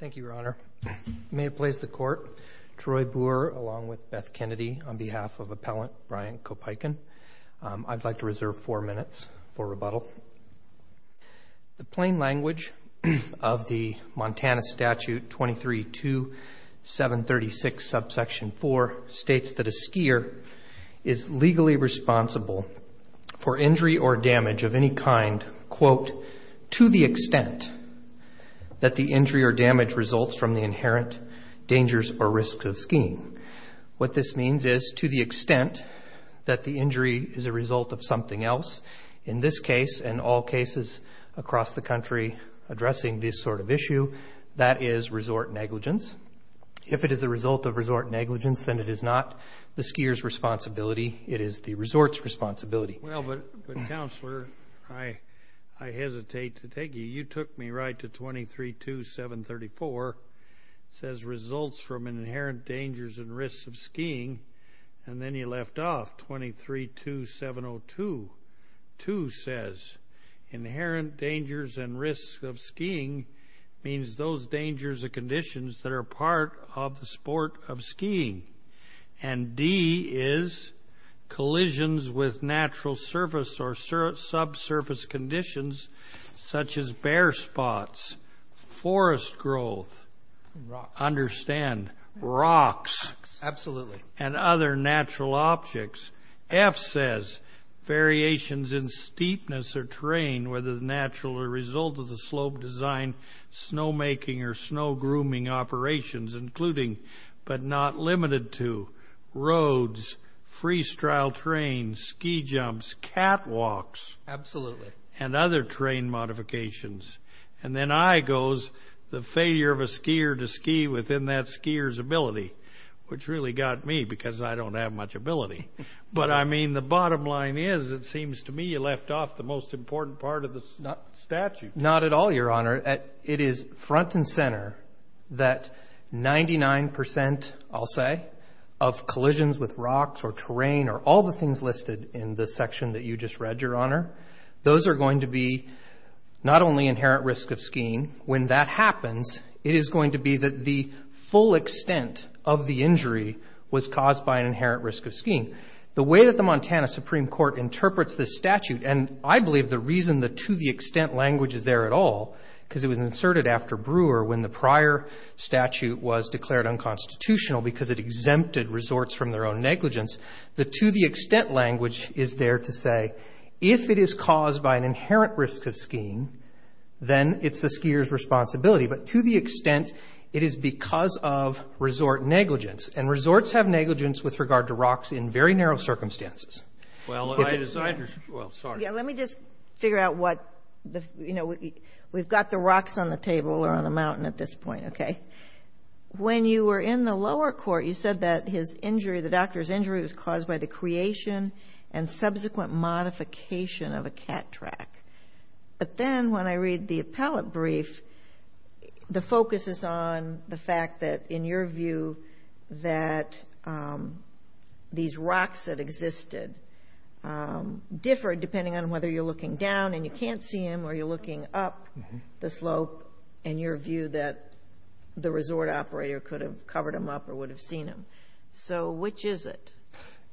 Thank you, Your Honor. May it please the Court, Troy Boer along with Beth Kennedy on behalf of Appellant Brian Kopeikin, I'd like to reserve four minutes for rebuttal. The plain language of the Montana Statute 23-2736 subsection 4 states that a skier is legally responsible for injury or damage of any kind, quote, to the extent that the injury or damage results from the inherent dangers or risks of skiing. What this means is to the extent that the injury is a result of something else, in this case and all cases across the country addressing this sort of issue, that is resort negligence. If it is a result of resort negligence, then it is not the skier's responsibility, it is the resort's responsibility. Well, but, but, Counselor, I, I hesitate to take you. You took me right to 23-2734. It says results from an inherent dangers and risks of skiing and then you left off 23-2702. 2 says inherent dangers and risks of skiing means those dangers or conditions that are part of the sport of skiing. And D is collisions with natural surface or subsurface conditions such as bare spots, forest growth, understand rocks, absolutely, and other natural objects. F says variations in steepness or terrain, whether the natural or result of the slope design, snowmaking or snow grooming operations, including but not limited to roads, freestyle trains, ski jumps, catwalks, absolutely, and other terrain modifications. And then I goes the failure of a skier to ski within that skier's ability, which really got me because I don't have much ability. But I mean, the bottom line is it seems to me you left off the most important part of the statute. Not at all, Your Honor. It is front and center that 99%, I'll say, of collisions with rocks or terrain or all the things listed in this section that you just read, Your Honor. Those are going to be not only inherent risk of skiing. When that happens, it is going to be that the full extent of the injury was caused by an inherent risk of skiing. The way that the extent language is there at all, because it was inserted after Brewer when the prior statute was declared unconstitutional because it exempted resorts from their own negligence, the to the extent language is there to say if it is caused by an inherent risk of skiing, then it's the skier's responsibility. But to the extent it is because of resort negligence, and resorts have negligence with regard to rocks in very narrow circumstances. Well, I just, well, sorry. Yeah, let me just figure out what the, you know, we've got the rocks on the table or on the mountain at this point, okay. When you were in the lower court, you said that his injury, the doctor's injury was caused by the creation and subsequent modification of a cat track. But then when I read the appellate brief, the focus is on the fact that, in your view, that these rocks that existed differed depending on whether you're looking down and you can't see them or you're looking up the slope, and your view that the resort operator could have covered them up or would have seen them. So which is it?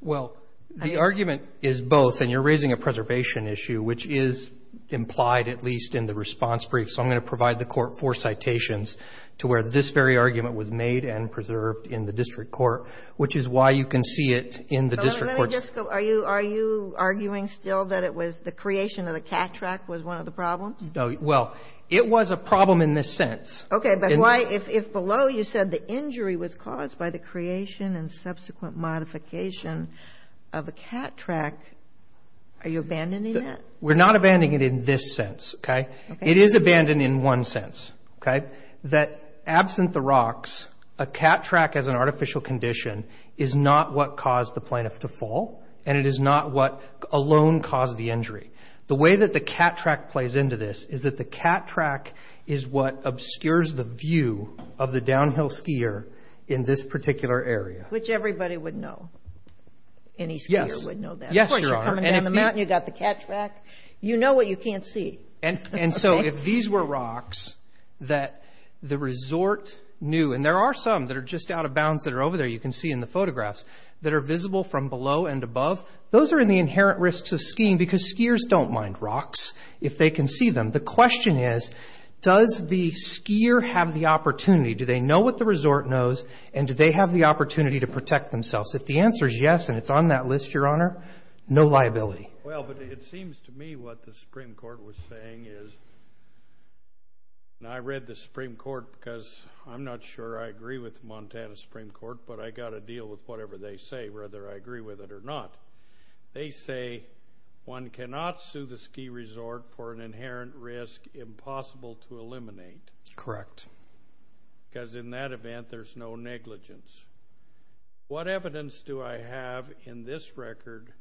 Well, the argument is both, and you're raising a preservation issue, which is implied at least in the response brief. So I'm going to provide the court four citations to where this very can see it in the district courts. Are you arguing still that it was the creation of the cat track was one of the problems? No, well, it was a problem in this sense. Okay, but why, if below you said the injury was caused by the creation and subsequent modification of a cat track, are you abandoning that? We're not abandoning it in this sense, okay. It is abandoned in one sense, okay, that absent the rocks, a cat track as an artificial condition is not what caused the plaintiff to fall, and it is not what alone caused the injury. The way that the cat track plays into this is that the cat track is what obscures the view of the downhill skier in this particular area. Which everybody would know. Any skier would know that. Yes, Your Honor. Of course, you're coming down the mountain, you've got the cat track. You know what you can't see. And so, if these were rocks that the resort knew, and there are some that are just out of bounds that are over there, you can see in the photographs, that are visible from below and above, those are in the inherent risks of skiing because skiers don't mind rocks if they can see them. The question is, does the skier have the opportunity? Do they know what the resort knows, and do they have the opportunity to protect themselves? If the answer is yes, and it's on that list, Your Honor, no liability. Well, but it seems to me what the Supreme Court was saying is, and I read the Supreme Court because I'm not sure I agree with the Montana Supreme Court, but I've got to deal with whatever they say, whether I agree with it or not. They say one cannot sue the ski resort for an inherent risk impossible to eliminate. Correct. Because in that event, there's no negligence. What evidence do I have in this record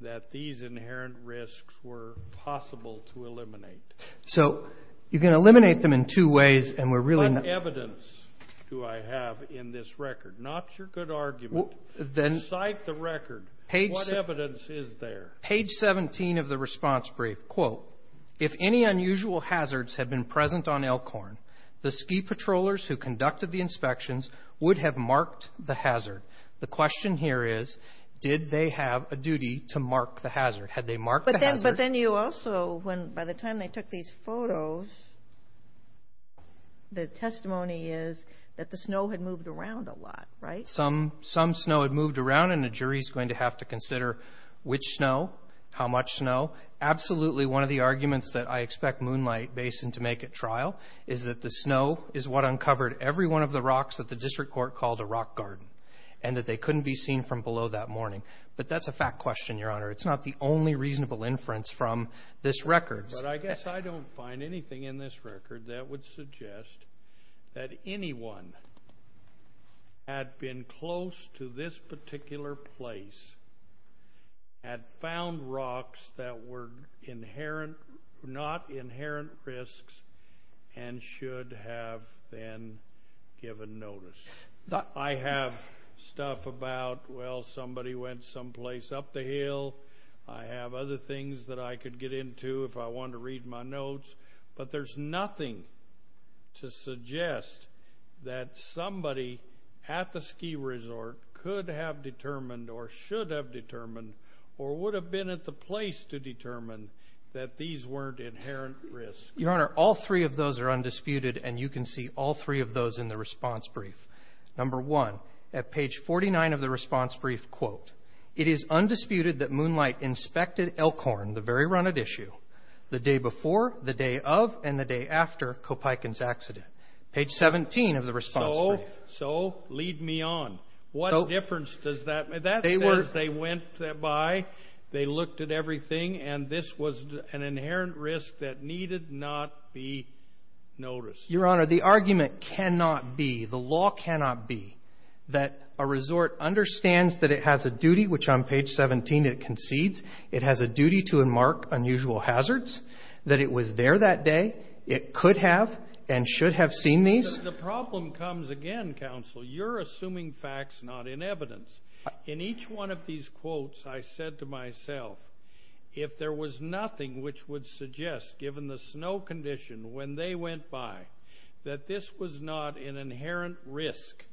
that these inherent risks were possible to eliminate? So, you can eliminate them in two ways, and we're really not... What evidence do I have in this record? Not your good argument. Cite the record. What evidence is there? Page 17 of the response brief. Quote, if any unusual hazards had been present on Elkhorn, the ski patrollers who conducted the inspections would have marked the hazard. The question here is, did they have a duty to mark the hazard? Had they marked the hazard? But then you also, by the time they took these photos, the testimony is that the snow had moved around a lot, right? Some snow had moved around, and the jury's going to have to consider which snow, how much snow. Absolutely, one of the arguments that I expect Moonlight Basin to make at trial is that the snow is what uncovered every one of the rocks that the district court called a rock garden, and that they couldn't be seen from below that morning. But that's a fact question, Your Honor. It's not the only reasonable inference from this record. But I guess I don't find anything in this record that would suggest that anyone had been close to this particular place, had found rocks that were not inherent risks, and should have then given notice. I have stuff about, well, somebody went someplace up the hill. I have other things that I could get into if I wanted to read my notes. But there's nothing to suggest that somebody at the ski resort could have determined, or should have determined, or would have been at the place to determine that these weren't inherent risks. Your Honor, all three of those are undisputed, and you can see all three of those in the response brief. Number one, at page 49 of the response brief, quote, it is undisputed that Moonlight inspected Elkhorn, the very runnit issue, the day before, the day of, and the day after Kopeikin's accident. Page 17 of the response brief. So lead me on. What difference does that make? That says they went by, they looked at everything, and this was an inherent risk that needed not be noticed. Your Honor, the argument cannot be, the law cannot be, that a resort understands that it has a duty, which on page 17 it concedes, it has a duty to mark unusual hazards, that it was there that day, it could have, and should have seen these. The problem comes again, Counsel, you're assuming facts, not in evidence. In each one of these quotes, I said to myself, if there was nothing which would suggest, given the snow condition when they went by, that this was not an inherent risk,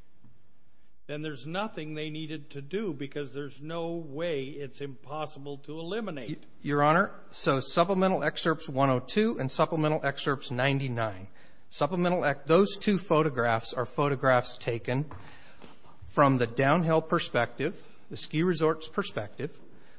then there's nothing they needed to do, because there's no way it's impossible to eliminate. Your Honor, so supplemental excerpts 102 and supplemental excerpts 99. Supplemental, those two photographs are photographs taken from the downhill perspective, the ski resort's perspective.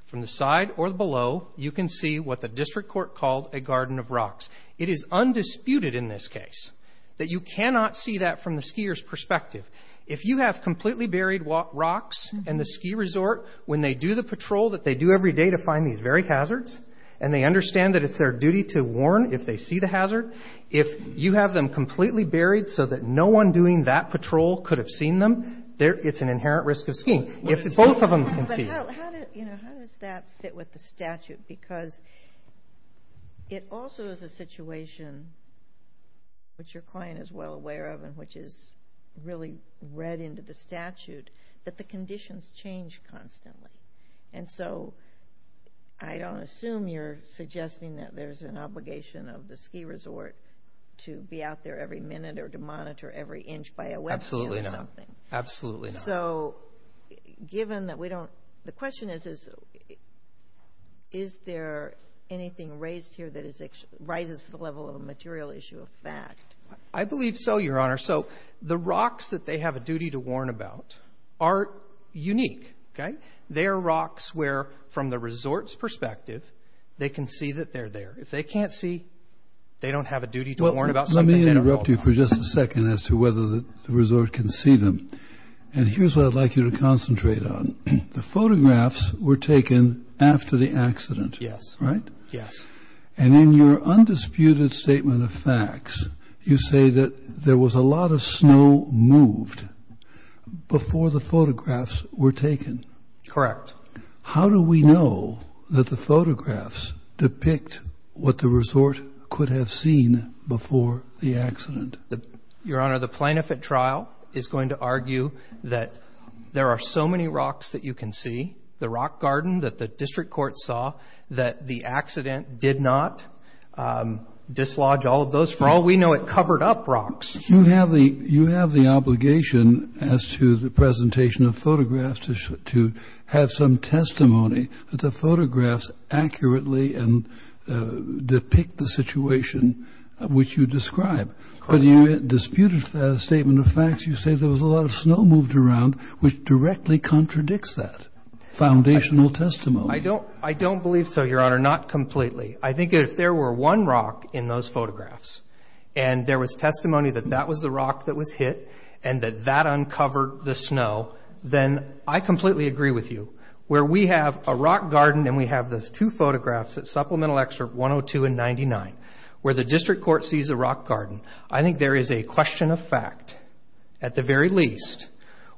From the side or below, you can see what the district court called a garden of rocks. It is undisputed in this case that you cannot see that from the skier's perspective. If you have completely buried rocks and the ski resort, when they do the patrol that they do every day to find these very hazards, and they understand that it's their duty to warn if they see the hazard, if you have them completely buried so that no one doing that patrol could have seen them, it's an inherent risk of skiing. If both of them can see. But how does that fit with the statute? Because it also is a situation which your client is well aware of, and which is really read into the statute, that the conditions change constantly. And so I don't assume you're suggesting that there's an obligation of the ski resort to be out there every minute or to monitor every inch by a web view or something. Absolutely not. So given that we don't, the question is, is there anything raised here that rises to the level of a material issue of fact? I believe so, Your Honor. So the rocks that they have a duty to warn about are unique, okay? They're rocks where, from the resort's perspective, they can see that they're there. If they can't see, they don't have a duty to warn about something. Let me interrupt you for just a second as to whether the resort can see them. And here's what I'd like you to concentrate on. The photographs were taken after the accident, right? Yes. And in your undisputed statement of facts, you say that there was a lot of snow moved before the photographs were taken. Correct. How do we know that the photographs depict what the resort could have seen before the accident? Your Honor, the plaintiff at trial is going to argue that there are so many rocks that you can see, the rock garden that the district court saw, that the accident did not dislodge all of those. For all we know, it covered up rocks. You have the obligation, as to the presentation of photographs, to have some testimony that the photographs accurately depict the situation which you describe. But in your disputed statement of facts, you say there was a lot of snow moved around, which directly contradicts that foundational testimony. I don't believe so, Your Honor. Not completely. I think if there were one rock in those photographs and there was testimony that that was the rock that was hit and that that uncovered the snow, then I completely agree with you. Where we have a rock garden and we have those two photographs at supplemental excerpt 102 and 99, where the district court sees a rock garden, I think there is a question of fact, at the very least,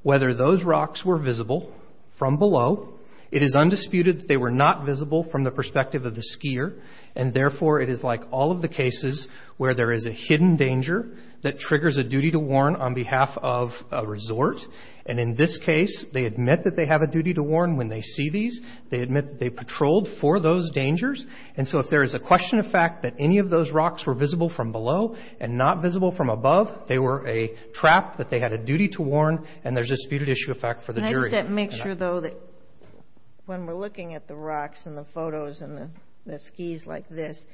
whether those rocks were visible from below. It is undisputed that they were not visible from the perspective of the skier, and therefore, it is like all of the cases where there is a hidden danger that triggers a duty to warn on behalf of a resort. And in this case, they admit that they have a duty to warn when they see these. They admit they patrolled for those dangers. And so if there is a question of fact that any of those rocks were visible from below and not visible from above, they were a trap that they had a duty to warn, and there's a disputed issue of fact for the jury. Does that make sure, though, that when we're looking at the rocks and the photos and the skis like this,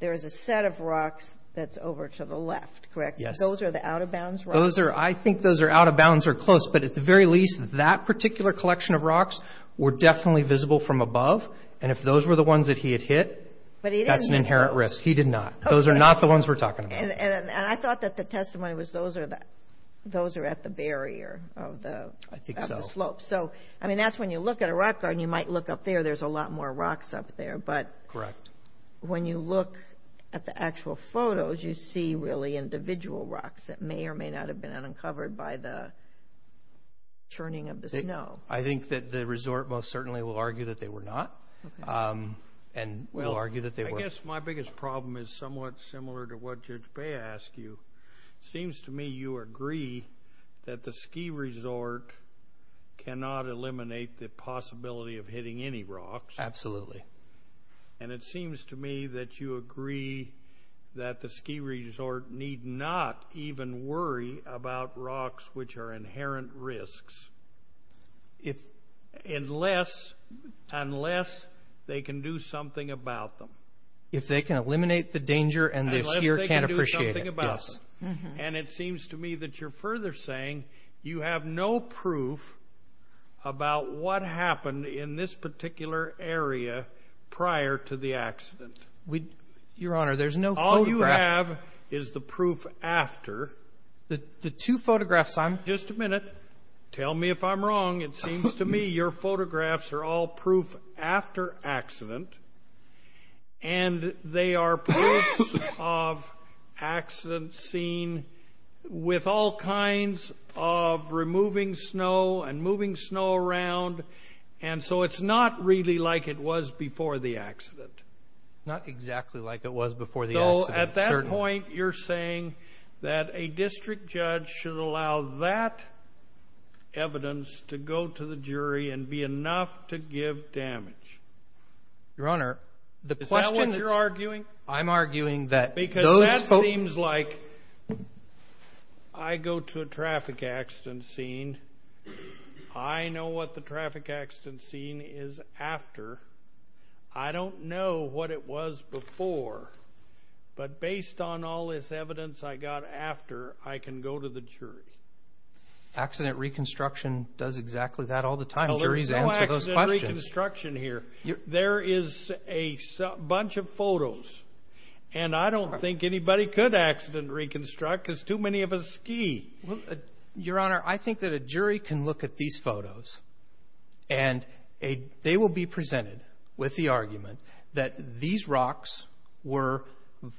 there is a set of rocks that's over to the left, correct? Yes. Those are the out-of-bounds rocks? I think those are out-of-bounds or close, but at the very least, that particular collection of rocks were definitely visible from above. And if those were the ones that he had hit, that's an inherent risk. He did not. Those are not the ones we're talking about. And I thought that the testimony was those are at the barrier of the slopes. I mean, that's when you look at a rock garden, you might look up there, there's a lot more rocks up there. But when you look at the actual photos, you see really individual rocks that may or may not have been uncovered by the churning of the snow. I think that the resort most certainly will argue that they were not, and will argue that they were. Well, I guess my biggest problem is somewhat similar to what Judge Bea asked you. Seems to me you agree that the ski resort cannot eliminate the possibility of hitting any rocks. Absolutely. And it seems to me that you agree that the ski resort need not even worry about rocks which are inherent risks. Unless they can do something about them. If they can eliminate the danger and the skier can't appreciate it. And it seems to me that you're further saying you have no proof about what happened in this particular area prior to the accident. Your Honor, there's no photograph. All you have is the proof after. The two photographs I'm... Just a minute. Tell me if I'm wrong. It seems to me your photographs are all proof after accident. And they are proofs of accidents seen with all kinds of removing snow and moving snow around. And so it's not really like it was before the accident. Not exactly like it was before the accident. Though at that point you're saying that a district judge should allow that evidence to go to the jury and be enough to give damage. Your Honor, the question... Is that what you're arguing? I'm arguing that... Because that seems like... I go to a traffic accident scene. I know what the traffic accident scene is after. I don't know what it was before. But based on all this evidence I got after, I can go to the jury. Accident reconstruction does exactly that all the time. Juries answer those questions. There's no accident reconstruction here. There is a bunch of photos. And I don't think anybody could accident reconstruct because too many of us ski. Your Honor, I think that a jury can look at these photos. And they will be presented with the argument that these rocks were...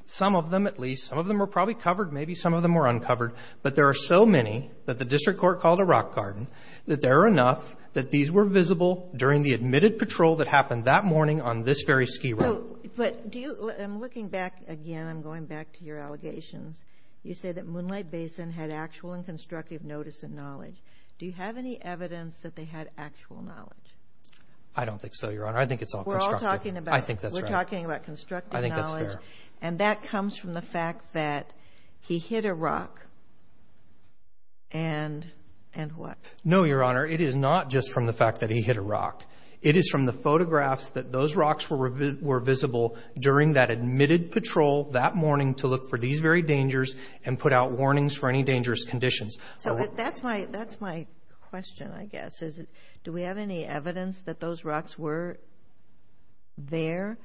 Some of them at least. Some of them were probably covered. Maybe some of them were uncovered. But there are so many that the district court called a rock garden. That there are enough that these were visible during the admitted patrol that happened that morning on this very ski run. But do you... I'm looking back again. I'm going back to your allegations. You say that Moonlight Basin had actual and constructive notice and knowledge. Do you have any evidence that they had actual knowledge? I don't think so, Your Honor. I think it's all constructive. I think that's right. We're talking about constructive knowledge. And that comes from the fact that he hit a rock. And what? No, Your Honor. It is not just from the fact that he hit a rock. It is from the photographs that those rocks were visible during that admitted patrol that morning to look for these very dangers and put out warnings for any dangerous conditions. So that's my question, I guess. Do we have any evidence that those rocks were there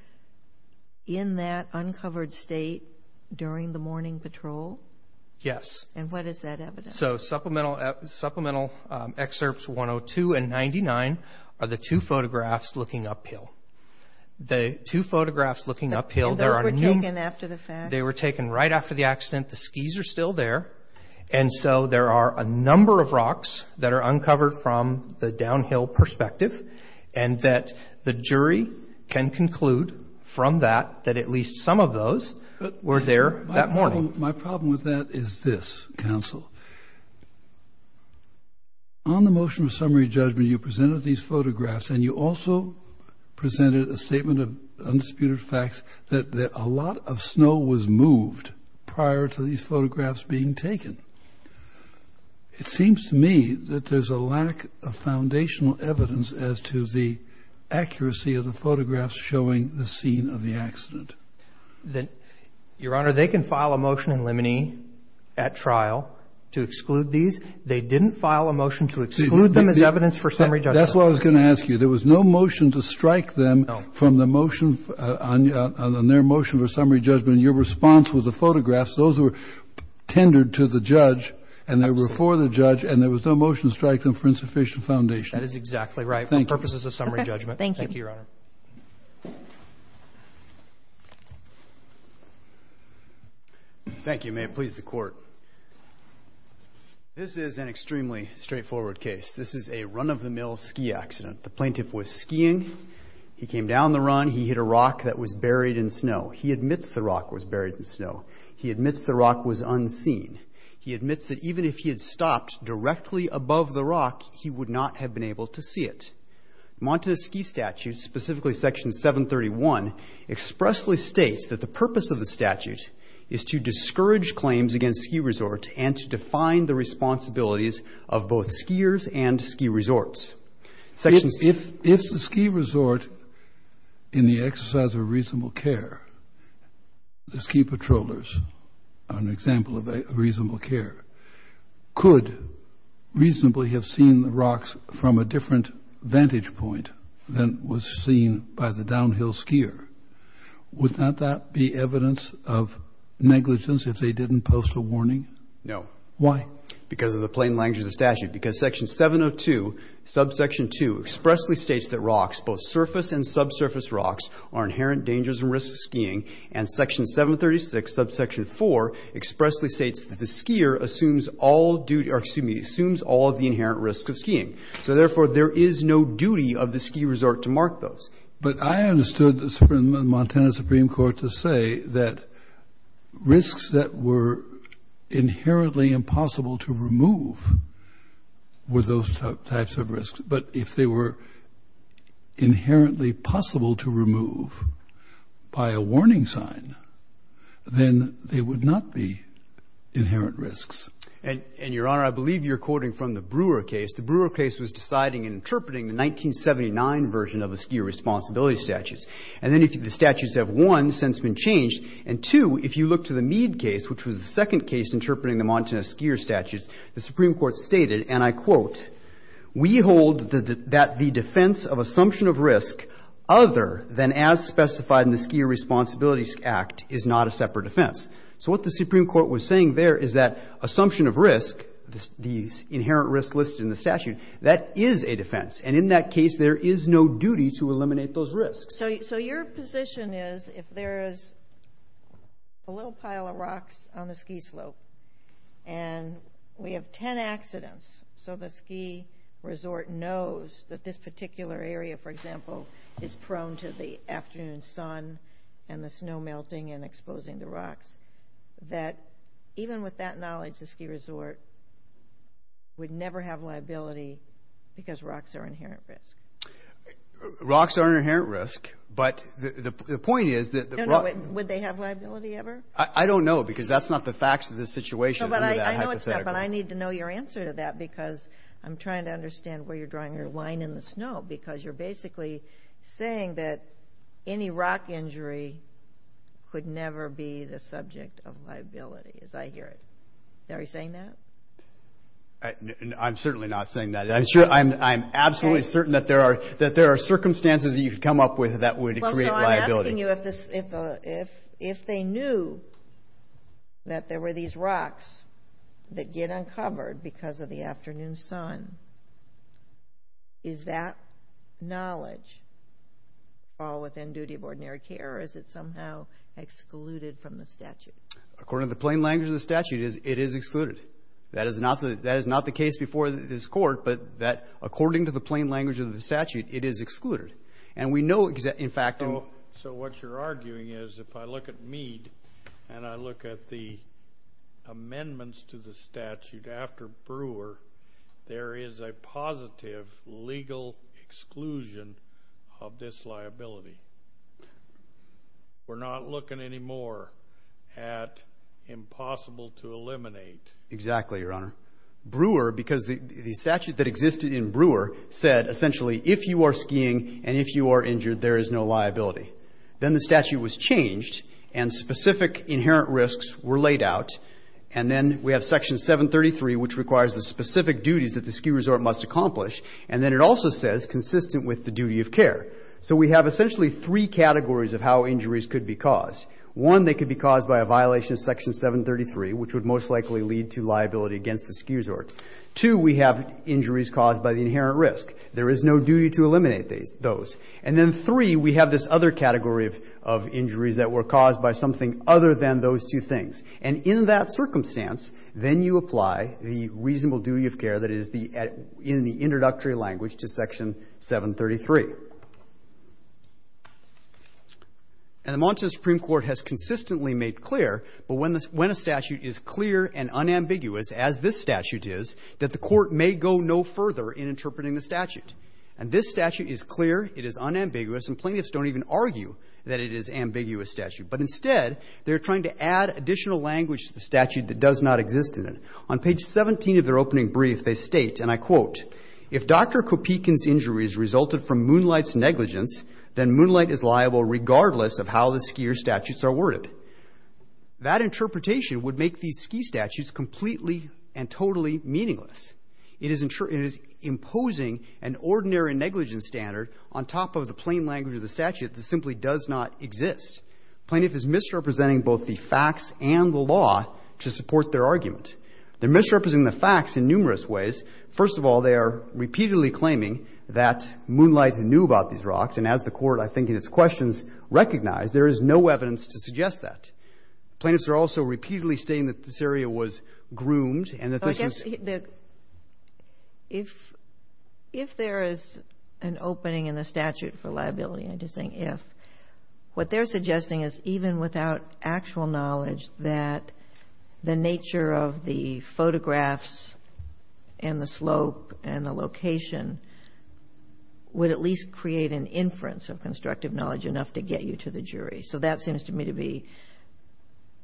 in that uncovered state during the morning patrol? Yes. And what is that evidence? So supplemental excerpts 102 and 99 are the two photographs looking uphill. The two photographs looking uphill, there are no... And those were taken after the fact? They were taken right after the accident. The skis are still there. And so there are a number of rocks that are uncovered from the downhill perspective and that the jury can conclude from that that at least some of those were there that morning. My problem with that is this, counsel. On the motion of summary judgment, you presented these photographs and you also presented a statement of undisputed facts that a lot of snow was moved prior to these photographs being taken. It seems to me that there's a lack of foundational evidence as to the accuracy of the photographs showing the scene of the accident. Then, Your Honor, they can file a motion in limine at trial to exclude these. They didn't file a motion to exclude them as evidence for summary judgment. That's what I was going to ask you. There was no motion to strike them on their motion for summary judgment. Your response was the photographs. Those were tendered to the judge and they were for the judge and there was no motion to strike them for insufficient foundation. That is exactly right for purposes of summary judgment. Thank you, Your Honor. Thank you. May it please the Court. This is an extremely straightforward case. This is a run-of-the-mill ski accident. The plaintiff was skiing. He came down the run. He hit a rock that was buried in snow. He admits the rock was buried in snow. He admits the rock was unseen. He admits that even if he had stopped directly above the rock, he would not have been able to see it. Montana's ski statute, specifically Section 731, expressly states that the purpose of the statute is to discourage claims against ski resorts and to define the responsibilities of both skiers and ski resorts. If the ski resort in the exercise of reasonable care, the ski patrollers are an example of a reasonable care, could reasonably have seen the rocks from a different vantage point than was seen by the downhill skier, would not that be evidence of negligence if they didn't post a warning? No. Why? Because of the plain language of the statute. Because Section 702, subsection 2, expressly states that rocks, both surface and subsurface rocks, are inherent dangers and risks of skiing. And Section 736, subsection 4, expressly states that the skier assumes all of the inherent risks of skiing. So therefore, there is no duty of the ski resort to mark those. But I understood the Montana Supreme Court to say that risks that were inherently impossible to remove were those types of risks. But if they were inherently possible to remove by a warning sign, then they would not be inherent risks. And, Your Honor, I believe you're quoting from the Brewer case. The Brewer case was deciding and interpreting the 1979 version of the skier responsibility statutes. And then the statutes have, one, since been changed, and two, if you look to the Mead case, which was the second case interpreting the Montana skier statutes, the Supreme Court may hold that the defense of assumption of risk, other than as specified in the Skier Responsibility Act, is not a separate defense. So what the Supreme Court was saying there is that assumption of risk, the inherent risk listed in the statute, that is a defense. And in that case, there is no duty to eliminate those risks. So your position is, if there is a little pile of rocks on the ski slope, and we have 10 accidents, so the ski resort knows that this particular area, for example, is prone to the afternoon sun and the snow melting and exposing the rocks, that even with that knowledge, the ski resort would never have liability because rocks are an inherent risk? Rocks are an inherent risk. But the point is that the rocks... No, no. Would they have liability ever? I don't know, because that's not the facts of the situation. I know it's not, but I need to know your answer to that, because I'm trying to understand where you're drawing your line in the snow, because you're basically saying that any rock injury could never be the subject of liability, as I hear it. Are you saying that? I'm certainly not saying that. I'm absolutely certain that there are circumstances that you could come up with that would create liability. I'm asking you if they knew that there were these rocks that get uncovered because of the afternoon sun, is that knowledge all within duty of ordinary care, or is it somehow excluded from the statute? According to the plain language of the statute, it is excluded. That is not the case before this court, but according to the plain language of the statute, it is excluded. And we know, in fact... So what you're arguing is, if I look at Mead, and I look at the amendments to the statute after Brewer, there is a positive legal exclusion of this liability. We're not looking anymore at impossible to eliminate. Exactly, Your Honor. Brewer, because the statute that existed in Brewer said, essentially, if you are skiing and if you are injured, there is no liability. Then the statute was changed, and specific inherent risks were laid out, and then we have Section 733, which requires the specific duties that the ski resort must accomplish, and then it also says, consistent with the duty of care. So we have essentially three categories of how injuries could be caused. One, they could be caused by a violation of Section 733, which would most likely lead to liability against the ski resort. Two, we have injuries caused by the inherent risk. There is no duty to eliminate those. And then three, we have this other category of injuries that were caused by something other than those two things. And in that circumstance, then you apply the reasonable duty of care that is in the introductory language to Section 733. And the Montana Supreme Court has consistently made clear, but when a statute is clear and unambiguous, as this statute is, that the court may go no further in interpreting the statute. And this statute is clear, it is unambiguous, and plaintiffs don't even argue that it is an ambiguous statute. But instead, they're trying to add additional language to the statute that does not exist in it. On page 17 of their opening brief, they state, and I quote, if Dr. Kopikin's injuries resulted from Moonlight's negligence, then Moonlight is liable regardless of how the skier's statutes are worded. That interpretation would make these ski statutes completely and totally meaningless. It is imposing an ordinary negligence standard on top of the plain language of the statute that simply does not exist. Plaintiff is misrepresenting both the facts and the law to support their argument. They're misrepresenting the facts in numerous ways. First of all, they are repeatedly claiming that Moonlight knew about these rocks. And as the Court, I think, in its questions recognized, there is no evidence to suggest that. Plaintiffs are also repeatedly stating that this area was groomed and that this was the If there is an opening in the statute for liability, I'm just saying if, what they're suggesting is even without actual knowledge that the nature of the photographs and the slope and the location would at least create an inference of constructive knowledge enough to get you to the jury. So that seems to me to be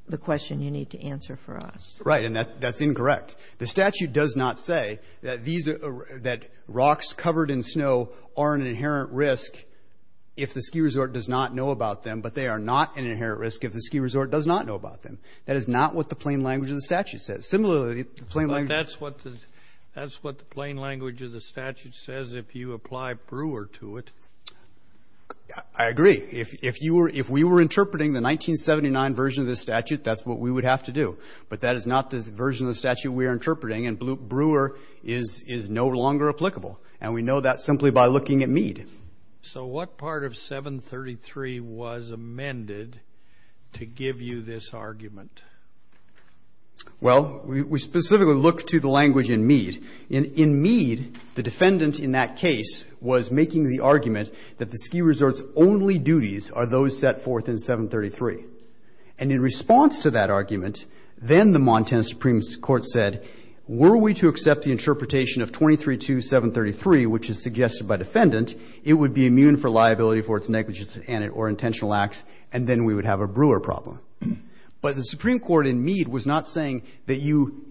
the question you need to answer for us. Right. And that's incorrect. The statute does not say that these are that rocks covered in snow are an inherent risk if the ski resort does not know about them, but they are not an inherent risk if the ski resort does not know about them. That is not what the plain language of the statute says. Similarly, the plain language But that's what the plain language of the statute says if you apply Brewer to it. I agree. If you were if we were interpreting the 1979 version of the statute, that's what we would have to do. But that is not the version of the statute we are interpreting. And Brewer is no longer applicable. And we know that simply by looking at Meade. So what part of 733 was amended to give you this argument? Well, we specifically look to the language in Meade. In Meade, the defendant in that case was making the argument that the ski resort's only duties are those set forth in 733. And in response to that argument, then the Montana Supreme Court said, were we to accept the interpretation of 23 to 733, which is suggested by defendant, it would be immune for liability for its negligence or intentional acts. And then we would have a Brewer problem. But the Supreme Court in Meade was not saying that you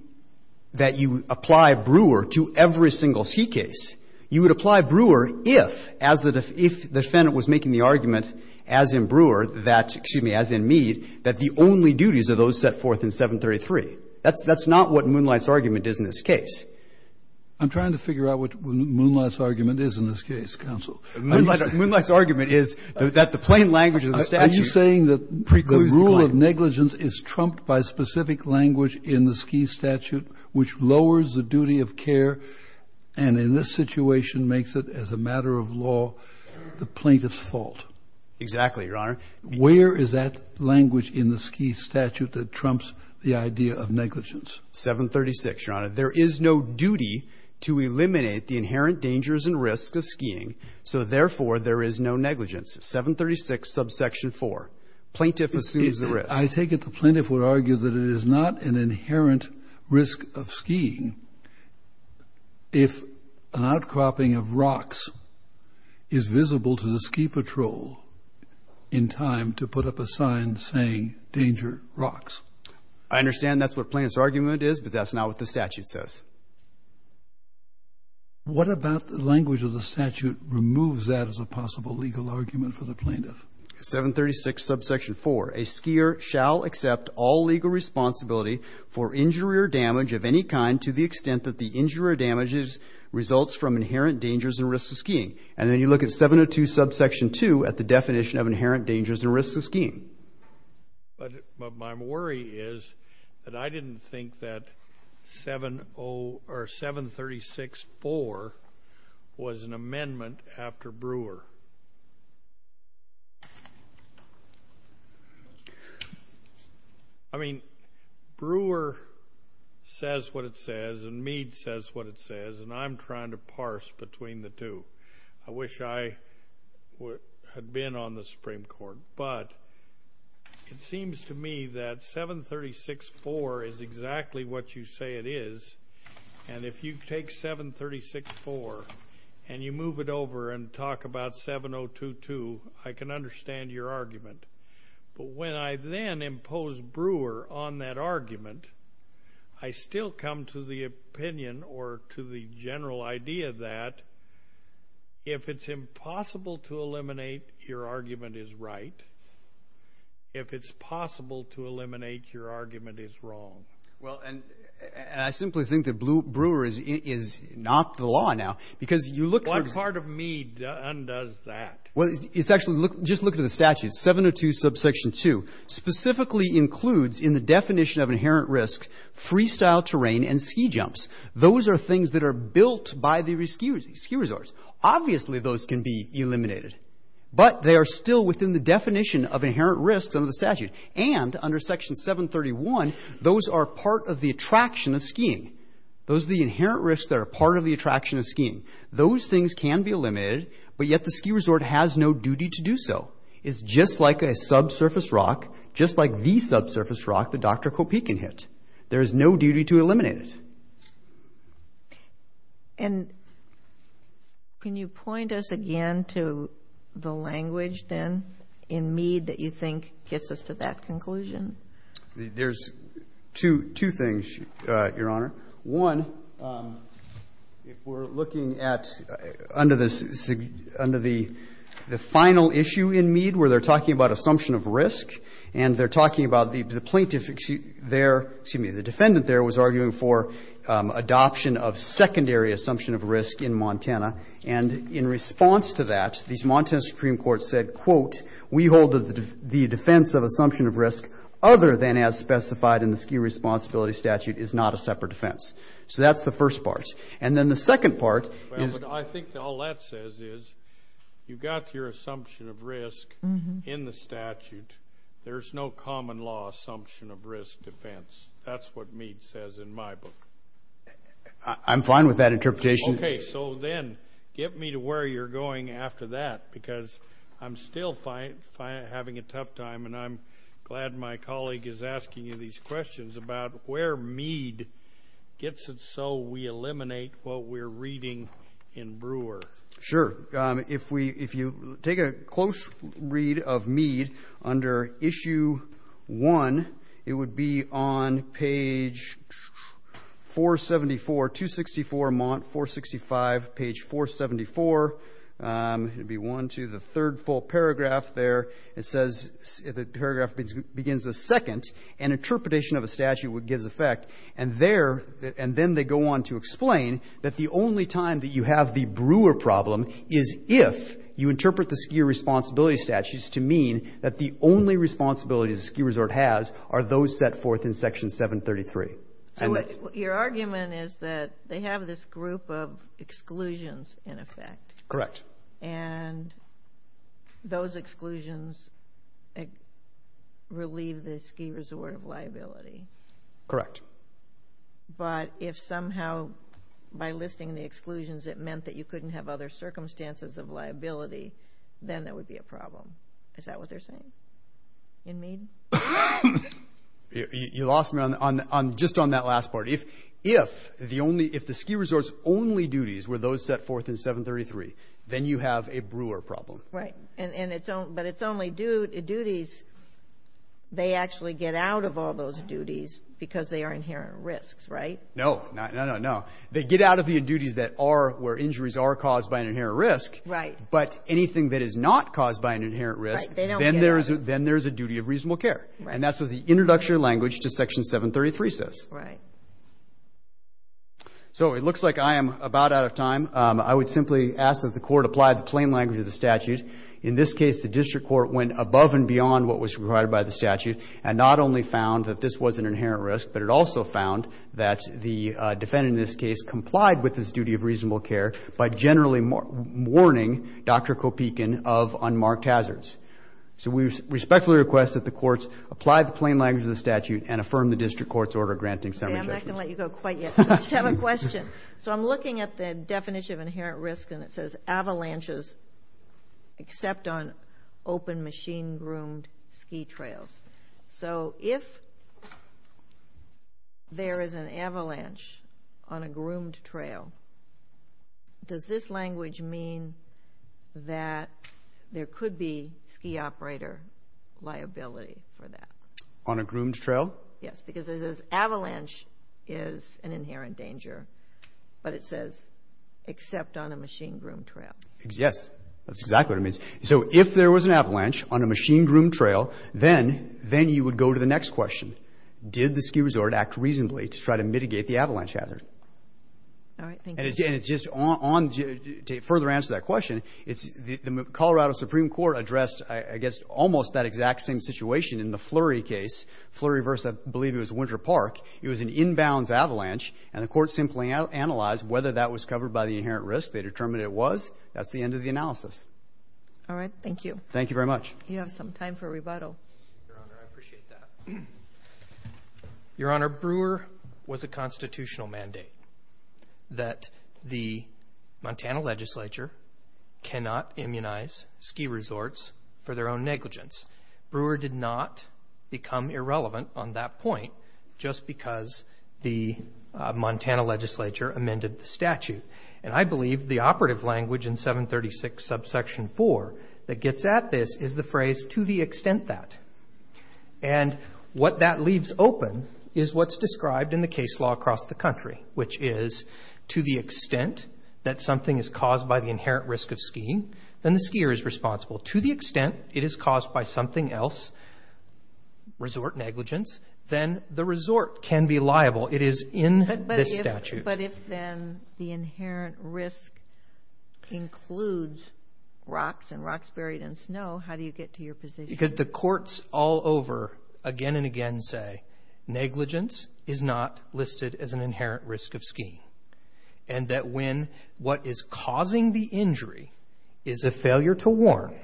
that you apply Brewer to every single ski case. You would apply Brewer if as the defendant was making the argument as in Brewer that, excuse me, as in Meade, that the only duties are those set forth in 733. That's not what Moonlight's argument is in this case. I'm trying to figure out what Moonlight's argument is in this case, counsel. Moonlight's argument is that the plain language of the statute. Are you saying that the rule of negligence is trumped by specific language in the ski statute, which lowers the duty of care and in this situation makes it as a matter of law, the plaintiff's fault? Exactly, Your Honor. Where is that language in the ski statute that trumps the idea of negligence? 736, Your Honor. There is no duty to eliminate the inherent dangers and risk of skiing. So therefore, there is no negligence. 736 subsection 4. Plaintiff assumes the risk. I take it the plaintiff would argue that it is not an inherent risk of skiing. If an outcropping of rocks is visible to the ski patrol in time to put up a sign saying danger rocks. I understand that's what plaintiff's argument is, but that's not what the statute says. What about the language of the statute removes that as a possible legal argument for the plaintiff? 736 subsection 4. A skier shall accept all legal responsibility for injury or damage of any kind to the extent that the injury or damage results from inherent dangers and risks of skiing. And then you look at 702 subsection 2 at the definition of inherent dangers and risks of skiing. But my worry is that I didn't think that 736.4 was an amendment after Brewer. I mean, Brewer says what it says, and Meade says what it says, and I'm trying to parse between the two. I wish I had been on the Supreme Court, but it seems to me that 736.4 is exactly what you say it is. And if you take 736.4 and you move it over and talk about 702.2, I can understand your argument. But when I then impose Brewer on that argument, I still come to the opinion or to the general idea that if it's impossible to eliminate, your argument is right. If it's possible to eliminate, your argument is wrong. Well, and I simply think that Brewer is not the law now. Because you look... What part of Meade undoes that? It's actually... Just look at the statute. 702 subsection 2 specifically includes in the definition of inherent risk freestyle terrain and ski jumps. Those are things that are built by the ski resorts. Obviously, those can be eliminated, but they are still within the definition of inherent risks under the statute. And under section 731, those are part of the attraction of skiing. Those are the inherent risks that are part of the attraction of skiing. Those things can be eliminated, but yet the ski resort has no duty to do so. It's just like a subsurface rock, just like the subsurface rock that Dr. Kopeikin hit. There is no duty to eliminate it. And can you point us again to the language then in Meade that you think gets us to that conclusion? There's two things, Your Honor. One, if we're looking at under the final issue in Meade, where they're talking about assumption of risk, and they're talking about the plaintiff there... Excuse me. The defendant there was arguing for adoption of secondary assumption of risk in Montana. And in response to that, these Montana Supreme Courts said, quote, we hold the defense of assumption of risk other than as specified in the ski responsibility statute is not a defense. So that's the first part. And then the second part... I think all that says is you've got your assumption of risk in the statute. There's no common law assumption of risk defense. That's what Meade says in my book. I'm fine with that interpretation. Okay. So then get me to where you're going after that, because I'm still having a tough time, and I'm glad my colleague is asking you these questions about where Meade gets it so we eliminate what we're reading in Brewer. Sure. If you take a close read of Meade under issue one, it would be on page 474, 264, Mont, 465, page 474. It'd be one, two, the third full paragraph there. It says the paragraph begins with second, an interpretation of a statute would give effect. And there, and then they go on to explain that the only time that you have the Brewer problem is if you interpret the ski responsibility statutes to mean that the only responsibility the ski resort has are those set forth in section 733. So your argument is that they have this group of exclusions in effect. Correct. And those exclusions relieve the ski resort of liability. Correct. But if somehow by listing the exclusions it meant that you couldn't have other circumstances of liability, then that would be a problem. Is that what they're saying in Meade? You lost me on just on that last part. If the ski resort's only duties were those set forth in 733, then you have a Brewer problem. Right. And it's only duties, they actually get out of all those duties because they are inherent risks, right? No, no, no, no. They get out of the duties that are where injuries are caused by an inherent risk. Right. But anything that is not caused by an inherent risk, then there's a duty of reasonable care. And that's what the introductory language to section 733 says. Right. So it looks like I am about out of time. I would simply ask that the court apply the plain language of the statute. In this case, the district court went above and beyond what was required by the statute and not only found that this was an inherent risk, but it also found that the defendant in this case complied with his duty of reasonable care by generally warning Dr. Kopekin of unmarked hazards. So we respectfully request that the courts apply the plain language of the statute and affirm the district court's order granting summary judgment. I'm not going to let you go quite yet. I just have a question. So I'm looking at the definition of inherent risk and it says avalanches except on open machine groomed ski trails. So if there is an avalanche on a groomed trail, does this language mean that there could be On a groomed trail? Yes. Because it says avalanche is an inherent danger, but it says except on a machine groomed trail. Yes. That's exactly what it means. So if there was an avalanche on a machine groomed trail, then you would go to the next question. Did the ski resort act reasonably to try to mitigate the avalanche hazard? All right. Thank you. And just to further answer that question, the Colorado Supreme Court addressed, I guess, almost that exact same situation in the Flurry case. Flurry versus, I believe, it was Winter Park. It was an inbounds avalanche and the court simply analyzed whether that was covered by the inherent risk. They determined it was. That's the end of the analysis. All right. Thank you. Thank you very much. You have some time for rebuttal. Your Honor, I appreciate that. Your Honor, Brewer was a constitutional mandate that the Montana legislature cannot immunize ski resorts for their own negligence. Brewer did not become irrelevant on that point just because the Montana legislature amended the statute. And I believe the operative language in 736 subsection 4 that gets at this is the phrase to the extent that. And what that leaves open is what's described in the case law across the country, which is to the extent that something is caused by the inherent risk of skiing, then the skier is responsible. To the extent it is caused by something else, resort negligence, then the resort can be liable. It is in the statute. But if then the inherent risk includes rocks and rocks buried in snow, how do you get to your position? Because the courts all over again and again say negligence is not listed as an inherent risk of skiing. And that when what is causing the injury is a failure to warn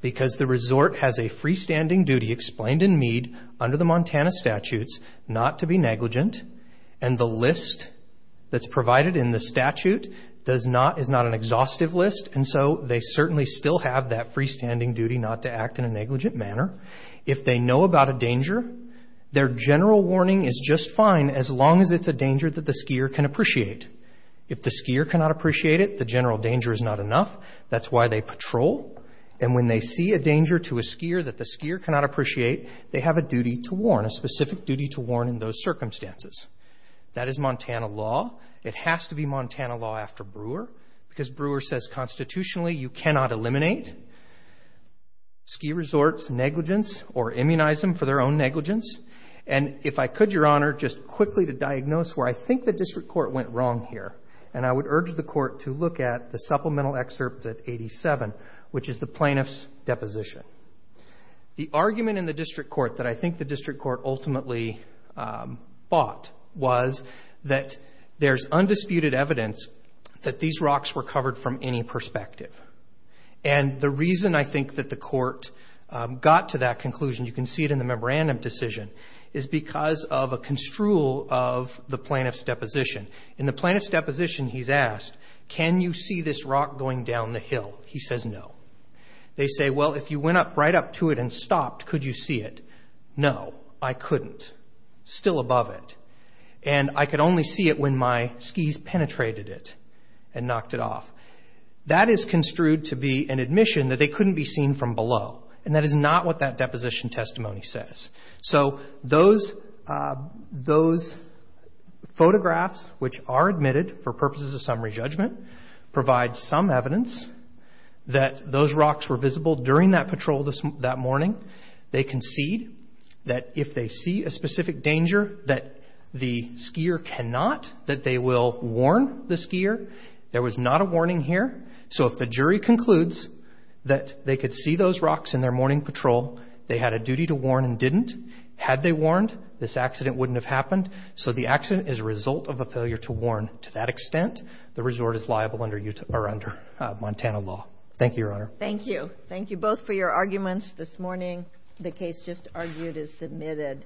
because the resort has a freestanding duty explained in Mead under the Montana statutes not to be negligent. And the list that's provided in the statute is not an exhaustive list. And so they certainly still have that freestanding duty not to act in a negligent manner. If they know about a danger, their general warning is just fine as long as it's a danger that the skier can appreciate. If the skier cannot appreciate it, the general danger is not enough. That's why they patrol. And when they see a danger to a skier that the skier cannot appreciate, they have a duty to warn, a specific duty to warn in those circumstances. That is Montana law. It has to be Montana law after Brewer because Brewer says constitutionally you cannot eliminate ski resorts negligence or immunize them for their own negligence. And if I could, Your Honor, just quickly to diagnose where I think the district court went wrong here. And I would urge the court to look at the supplemental excerpt at 87, which is the plaintiff's deposition. The argument in the district court that I think the district court ultimately bought was that there's undisputed evidence that these rocks were covered from any perspective. And the reason I think that the court got to that conclusion, you can see it in the is because of a construal of the plaintiff's deposition. In the plaintiff's deposition, he's asked, can you see this rock going down the hill? He says no. They say, well, if you went up right up to it and stopped, could you see it? No, I couldn't. Still above it. And I could only see it when my skis penetrated it and knocked it off. That is construed to be an admission that they couldn't be seen from below. And that is not what that deposition testimony says. So those photographs, which are admitted for purposes of summary judgment, provide some evidence that those rocks were visible during that patrol that morning. They concede that if they see a specific danger that the skier cannot, that they will warn the skier. There was not a warning here. So if the jury concludes that they could see those rocks in their morning patrol, they had a duty to warn and didn't. Had they warned, this accident wouldn't have happened. So the accident is a result of a failure to warn to that extent. The resort is liable under Montana law. Thank you, Your Honor. Thank you. Thank you both for your arguments this morning. The case just argued is submitted.